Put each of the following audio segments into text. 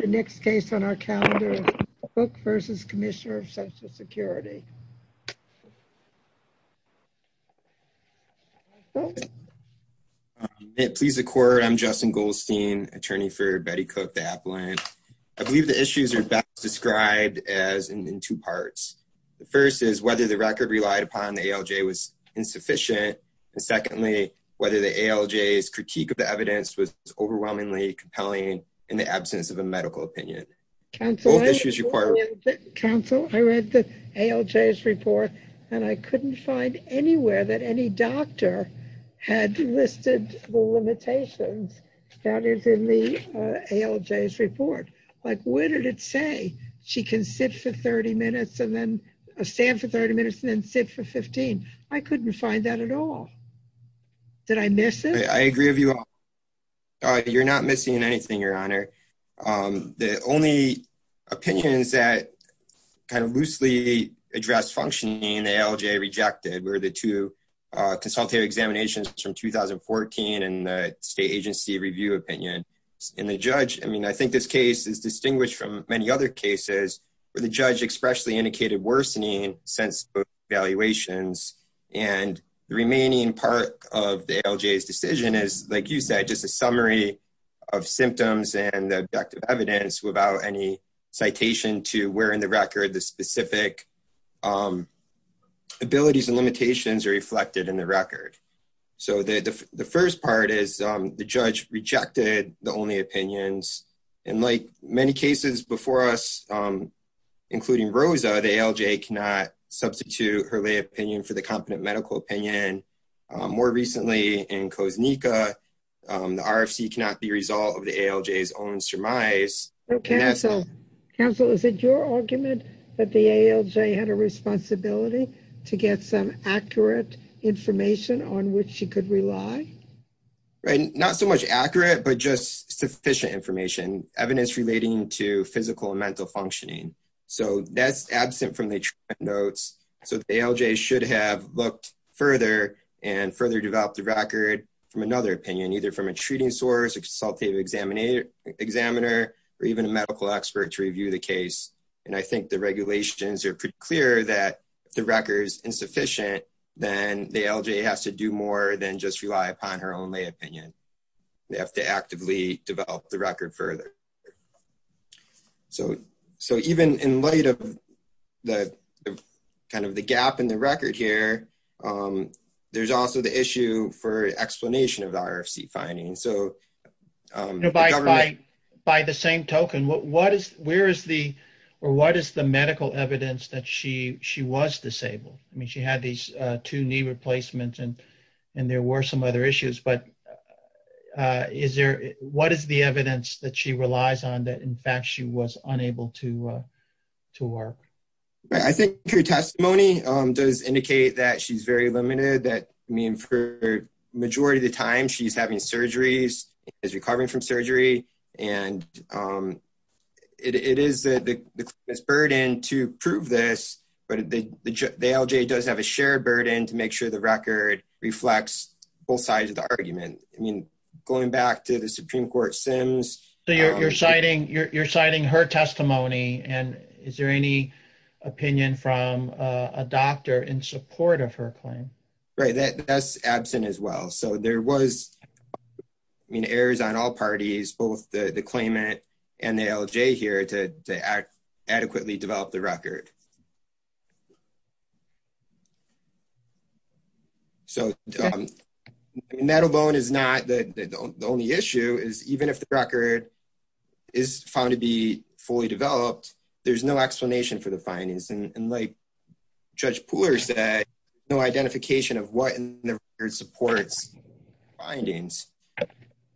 The next case on our calendar book versus Commissioner of Social Security. It please the court. I'm Justin Goldstein, attorney for Betty Cooke, the Applin. I believe the issues are best described as in two parts. The first is whether the record relied upon the ALJ was insufficient. And secondly, whether the ALJ is critique of the evidence was absence of a medical opinion. Council, I read the ALJ's report, and I couldn't find anywhere that any doctor had listed the limitations that is in the ALJ's report. Like, what did it say? She can sit for 30 minutes and then stand for 30 minutes and then sit for 15. I couldn't find that at all. Did I miss it? I agree with you. You're not missing anything, Your Honor. The only opinions that kind of loosely address functioning the ALJ rejected were the two consultative examinations from 2014 and the state agency review opinion. And the judge, I mean, I think this case is distinguished from many other cases where the judge expressly worsening sense of evaluations. And the remaining part of the ALJ's decision is, like you said, just a summary of symptoms and the objective evidence without any citation to where in the record the specific abilities and limitations are reflected in the record. So the first part is the ALJ cannot substitute her lay opinion for the competent medical opinion. More recently, in Koznika, the RFC cannot be a result of the ALJ's own surmise. Council, is it your argument that the ALJ had a responsibility to get some accurate information on which she could rely? Right. Not so much accurate, but just notes. So the ALJ should have looked further and further developed the record from another opinion, either from a treating source, a consultative examiner, or even a medical expert to review the case. And I think the regulations are pretty clear that the record's insufficient, then the ALJ has to do more than just rely upon her only opinion. They have to look at the gap in the record here. There's also the issue for explanation of the RFC finding. By the same token, what is the medical evidence that she was disabled? I mean, she had these two knee replacements, and there were some other issues. But what is the evidence that she relies on that, in fact, she was unable to work? I think her testimony does indicate that she's very limited. I mean, for the majority of the time, she's having surgeries, is recovering from surgery. And it is the burden to prove this, but the ALJ does have a shared burden to make sure the record reflects both sides of the argument. I mean, going back to the Supreme Court Sims. So you're citing her testimony, and is there any opinion from a doctor in support of her claim? Right, that's absent as well. So there was, I mean, errors on all parties, both the claimant and the ALJ here to adequately develop the record. So, metal bone is not the only issue, is even if the record is found to be fully developed, there's no explanation for the findings. And like Judge Pooler said, no identification of what in the record supports findings.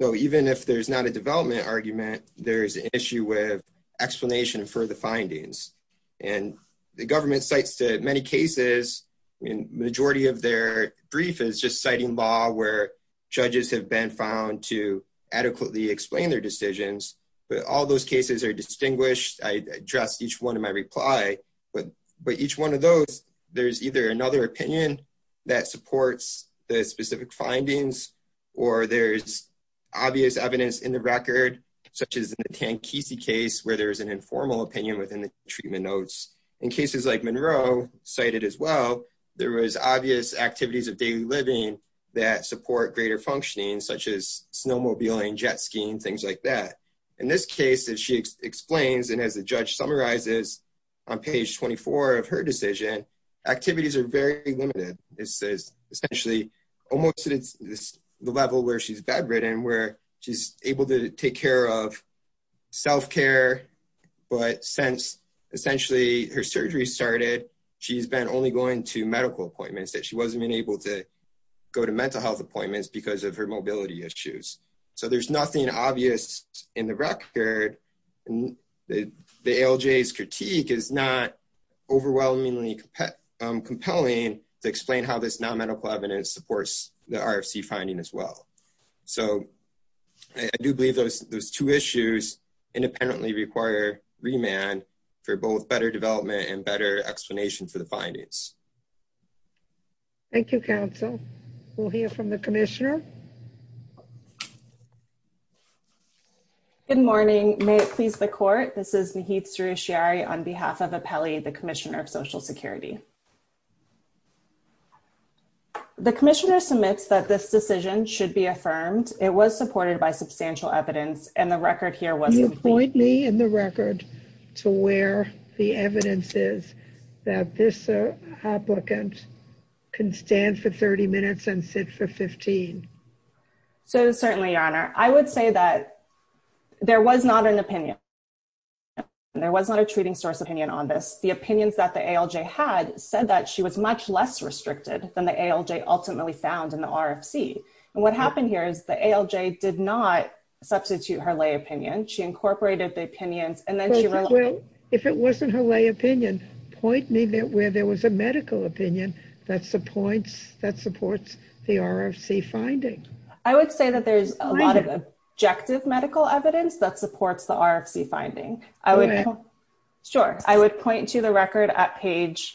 So even if there's not a development argument, there's an issue with explanation for the findings. And the government cites to many cases, I mean, majority of their brief is just citing law where judges have been found to adequately explain their decisions. But all those cases are distinguished. I addressed each one in my reply. But each one of those, there's either another opinion that supports the specific findings, or there's obvious evidence in the record, such as the Tankesi case where there's an informal opinion within the treatment notes. In cases like Monroe cited as well, there was obvious activities of daily living that support greater functioning, such as snowmobiling, jet skiing, things like that. In this case, as she explains, and as the judge summarizes on page 24 of her decision, activities are very limited. This is essentially almost at the level where she's bedridden, where she's able to take care of self-care. But since essentially her surgery started, she's been only going to medical appointments, that she wasn't even able to go to mental health appointments because of her mobility issues. So there's nothing obvious in the record. The ALJ's critique is not overwhelmingly compelling to explain how this non-medical evidence supports the RFC finding as well. So I do believe those two issues independently require remand for both better development and better explanation to the findings. Thank you, counsel. We'll hear from the commissioner. Good morning. May it please the court, this is Nahid Soroushiari on behalf of Apelli, the commissioner of social security. The commissioner submits that this decision should be affirmed. It was supported by substantial evidence and the record here was- Can you point me in the record to where the evidence is that this applicant can stand for 30 minutes and sit for 15? So certainly, your honor, I would say that there was not an opinion. There was not a treating source opinion on this. The opinions that the ALJ had said that she was much less restricted than the ALJ ultimately found in the RFC. And what happened here is the ALJ did not substitute her lay opinion. She incorporated the opinions and then- If it wasn't her lay opinion, point me where there was a medical opinion that supports the RFC finding. I would say that there's a lot of objective medical evidence that supports the RFC finding. I would point to the record at page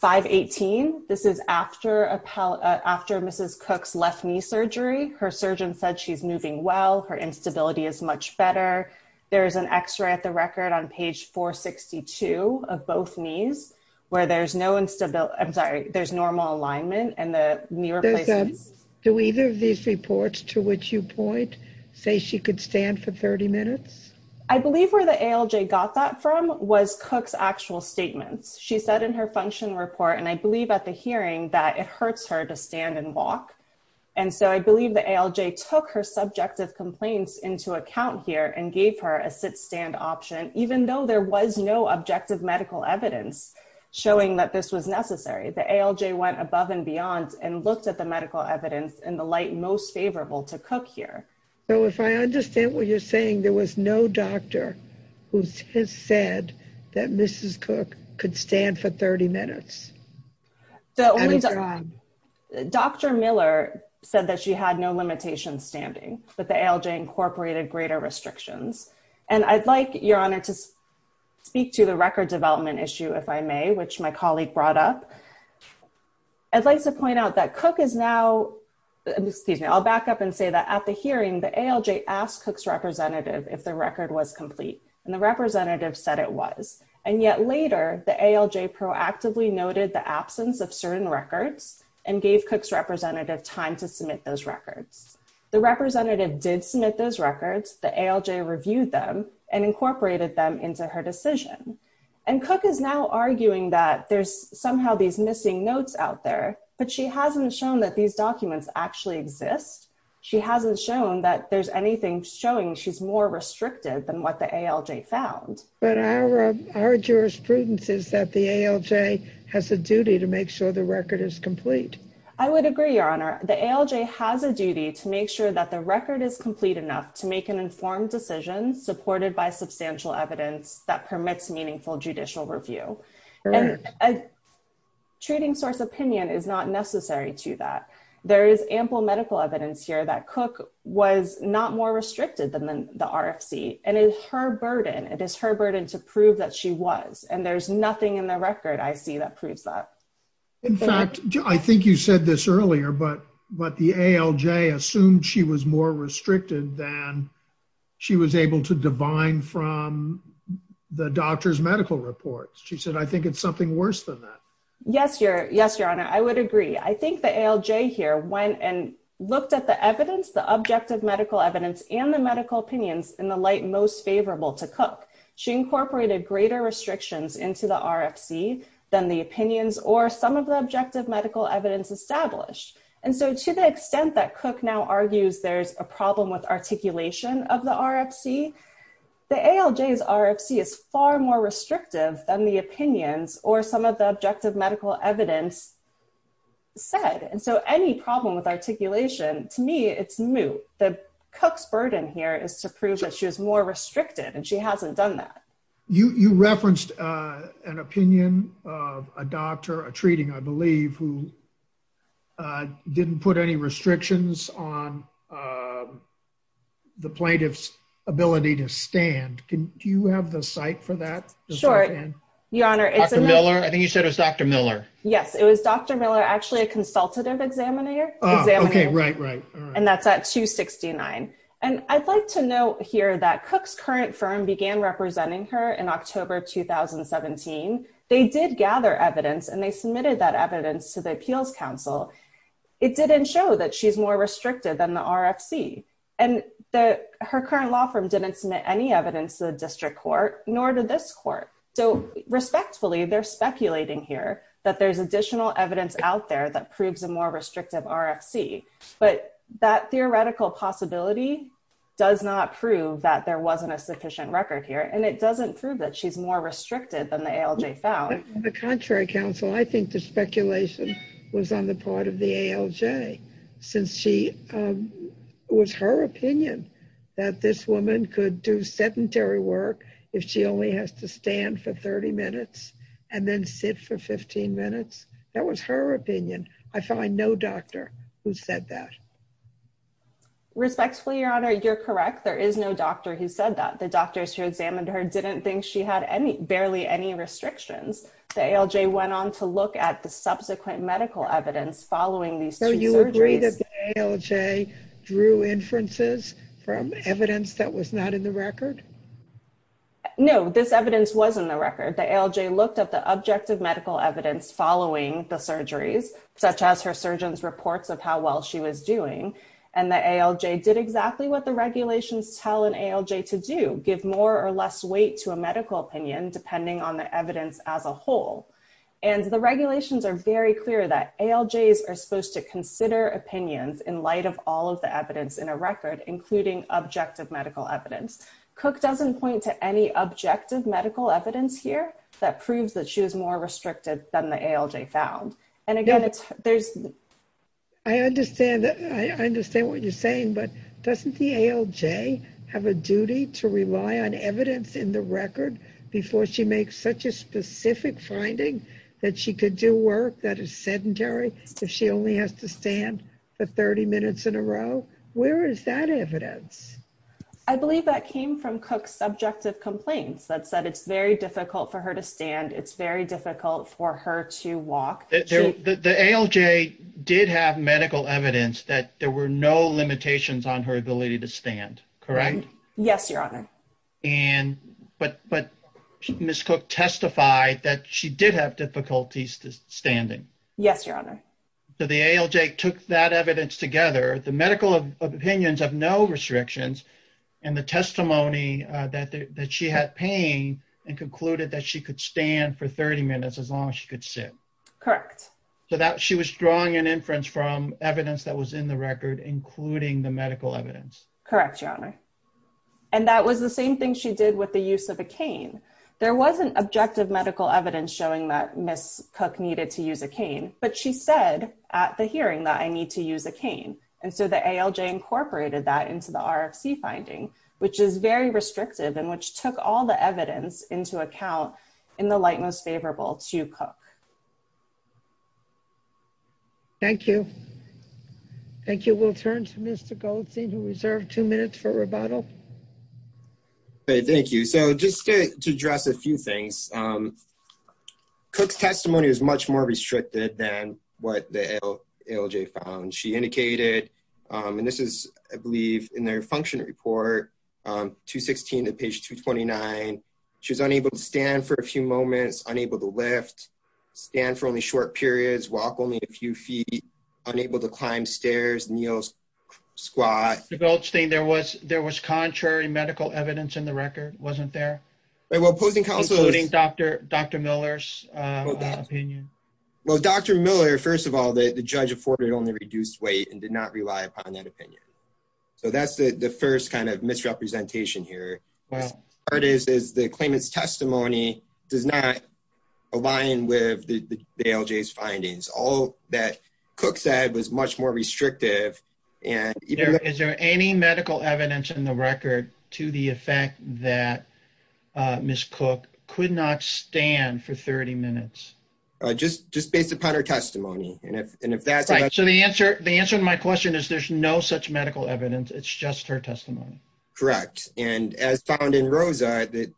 518. This is after Mrs. Cook's left knee surgery. Her surgeon said she's moving well. Her instability is much better. There is an x-ray at the record on page 462 of both knees where there's no instability. I'm sorry, there's normal alignment and the knee replacement- Do either of these reports to which you point say she could stand for 30 minutes? I believe where the ALJ got that from was Cook's actual statements. She said in her function report, and I believe at the hearing, that it hurts her to stand and walk. And so I believe the ALJ took her subjective complaints into account here and gave her a sit-stand option, even though there was no objective medical evidence showing that this was necessary. The ALJ went above and beyond and looked at the medical evidence in the light most favorable to Cook here. So if I understand what you're saying, there was no doctor who has said that Mrs. Cook could stand for 30 minutes? Dr. Miller said that she had no limitations standing, but the ALJ incorporated greater restrictions. And I'd like, Your Honor, to speak to the record development issue, if I may, which my colleague brought up. I'd like to point out that Cook is now, excuse me, I'll back up and say that at the hearing, the ALJ asked Cook's representative if the record was complete, and the representative said it was. And yet later, the ALJ proactively noted the absence of certain records and gave Cook's representative time to submit those records. The representative did submit those records, the ALJ reviewed them, and incorporated them into her decision. And Cook is now arguing that there's somehow these missing notes out there, but she hasn't shown that these documents actually exist. She hasn't shown that there's anything showing she's more restricted than what the ALJ found. But our jurisprudence is that the ALJ has a duty to make sure the record is complete. I would agree, Your Honor. The ALJ has a duty to make sure that the record is complete enough to make an informed decision supported by substantial evidence that permits meaningful judicial review. And a treating source opinion is not necessary to that. There is ample medical evidence here that Cook was not more restricted than the RFC, and it's her burden. It is her burden to prove that she was, and there's nothing in the record I see that proves that. In fact, I think you said this earlier, but the ALJ assumed she was more restricted than she was able to divine from the doctor's medical reports. She said, I think it's something worse than that. Yes, Your Honor. I would agree. I think the ALJ here went and looked at the evidence, the objective medical evidence, and the medical opinions in the light most favorable to Cook. She incorporated greater restrictions into the RFC than the opinions or some of the objective medical evidence established. And so to the extent that Cook now argues there's a problem with articulation of the RFC, the ALJ's RFC is far more restrictive than the opinions or some of the objective medical evidence said. And so any problem with articulation, to me, it's moot. Cook's burden here is to prove that she was more restricted, and she hasn't done that. You referenced an opinion of a doctor, a treating, I believe, who didn't put any restrictions on the plaintiff's ability to stand. Do you have the site for that? Sure, Your Honor. Dr. Miller? I think you said it was Dr. Miller. Yes, it was Dr. Miller, actually a consultative examiner. Okay, right, right. And that's at 269. And I'd like to note here that Cook's current firm began representing her in October of 2017. They did gather evidence, and they submitted that evidence to the Appeals Council. It didn't show that she's more restrictive than the RFC. And her current law firm didn't submit any evidence to the district court, nor to this court. So respectfully, they're speculating here that there's additional evidence out there that proves a more restrictive RFC. But that theoretical possibility does not prove that there wasn't a sufficient record here, and it doesn't prove that she's more restricted than the ALJ found. On the contrary, counsel, I think the speculation was on the part of the ALJ, since it was her opinion that this woman could do sedentary work if she only has to stand for 30 minutes, and then sit for 15 minutes. That was her opinion. I find no doctor who said that. Respectfully, Your Honor, you're correct. There is no doctor who said that. The doctors who the ALJ went on to look at the subsequent medical evidence following these two surgeries. So you agree that the ALJ drew inferences from evidence that was not in the record? No, this evidence was in the record. The ALJ looked at the objective medical evidence following the surgeries, such as her surgeon's reports of how well she was doing. And the ALJ did exactly what the regulations tell an ALJ to do, give more or less weight to a medical opinion, depending on the evidence as a whole. And the regulations are very clear that ALJs are supposed to consider opinions in light of all of the evidence in a record, including objective medical evidence. Cook doesn't point to any objective medical evidence here that proves that she was more restricted than the ALJ found. And again, there's... I understand. I understand what you're saying, but doesn't the ALJ have a duty to rely on such a specific finding that she could do work that is sedentary if she only has to stand for 30 minutes in a row? Where is that evidence? I believe that came from Cook's subjective complaints that said it's very difficult for her to stand. It's very difficult for her to walk. The ALJ did have medical evidence that there were no limitations on her ability to stand, correct? Yes, your honor. But Ms. Cook testified that she did have difficulties to standing. Yes, your honor. So the ALJ took that evidence together, the medical opinions of no restrictions and the testimony that she had pain and concluded that she could stand for 30 minutes as long as she could sit. Correct. So that she was drawing an inference from evidence that was in the record, including the medical evidence. Correct, your honor. And that was the same thing she did with the use of a cane. There wasn't objective medical evidence showing that Ms. Cook needed to use a cane, but she said at the hearing that I need to use a cane. And so the ALJ incorporated that into the RFC finding, which is very restrictive and which took all the evidence into account in the light most favorable to Cook. Thank you. Thank you. We'll turn to Mr. Goldstein who reserved two minutes for rebuttal. Thank you. So just to address a few things, Cook's testimony was much more restricted than what the ALJ found. She indicated, and this is I believe in their function report, 216 to page 229. She was unable to stand for a few moments, unable to lift, stand for only short periods, walk only a few feet, unable to climb stairs, kneel, squat. Mr. Goldstein, there was contrary medical evidence in the record, wasn't there? Well, opposing counsel- Including Dr. Miller's opinion. Well, Dr. Miller, first of all, the judge afforded only reduced weight and did not rely upon that opinion. So that's the first kind of misrepresentation here. Well- Part is the claimant's testimony does not align with the ALJ's findings. All that Cook said was much more restrictive and- Is there any medical evidence in the record to the effect that Ms. Cook could not stand for 30 minutes? Just based upon her testimony. And if that's- So the answer to my question is, there's no such medical evidence. It's just her testimony. Correct. And as found in Rosa, that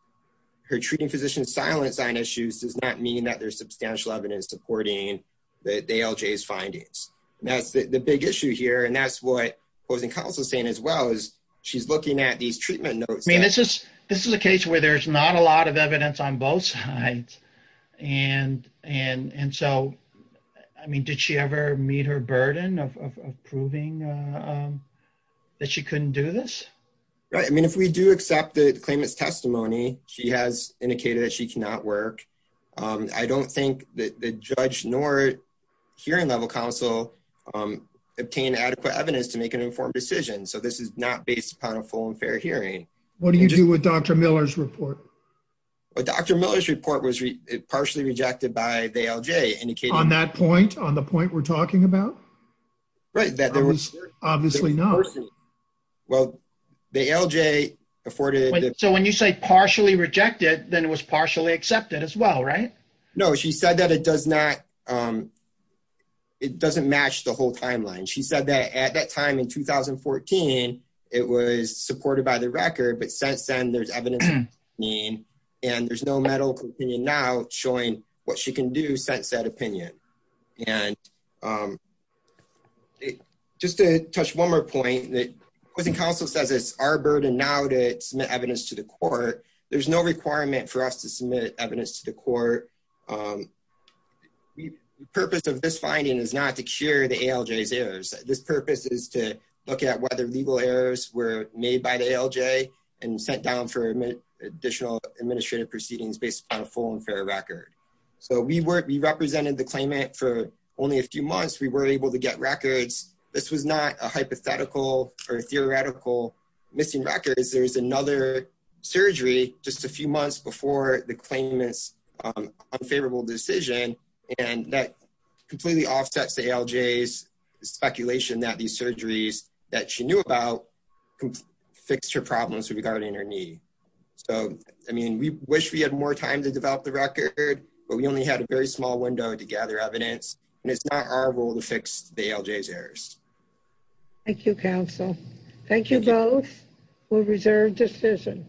her treating physician's silent sign issues does not mean that there's substantial evidence supporting the ALJ's findings. That's the big issue here. And that's what opposing counsel is saying as well, is she's looking at these treatment notes- This is a case where there's not a lot of evidence on both sides. And so, I mean, did she ever meet her burden of proving that she couldn't do this? Right. I mean, if we do accept the claimant's testimony, she has indicated that she cannot work. I don't think that the judge nor hearing level counsel obtain adequate evidence to make an informed decision. So this is not based upon a full and fair hearing. What do you do with Dr. Miller's report? Dr. Miller's report was partially rejected by the ALJ, indicating- On that point? On the point we're talking about? Right. That there was- Obviously not. Well, the ALJ afforded- So when you say partially rejected, then it was partially accepted as well, right? No, she said that it doesn't match the whole timeline. She said that at that time in 2014, it was supported by the record. But since then, there's evidence- And there's no medical opinion now showing what she can do since that opinion. And just to touch one more point, the Counsel says it's our burden now to submit evidence to the court. There's no requirement for us to submit evidence to the court. The purpose of this finding is not to cure the ALJ's errors. This purpose is to look at whether legal errors were made by the ALJ and sent down for additional administrative proceedings based upon a full and fair record. So we represented the claimant for only a few months. We were able to get records. This was not a hypothetical or theoretical missing records. There's another surgery just a few months before the claimant's unfavorable decision. And that completely offsets the ALJ's speculation that these surgeries that she knew about fixed her problems regarding her knee. So, I mean, we wish we had more time to develop the record, but we only had a very small window to gather evidence. And it's not our role to fix the ALJ's errors. Thank you, Counsel. Thank you both. We'll reserve decision.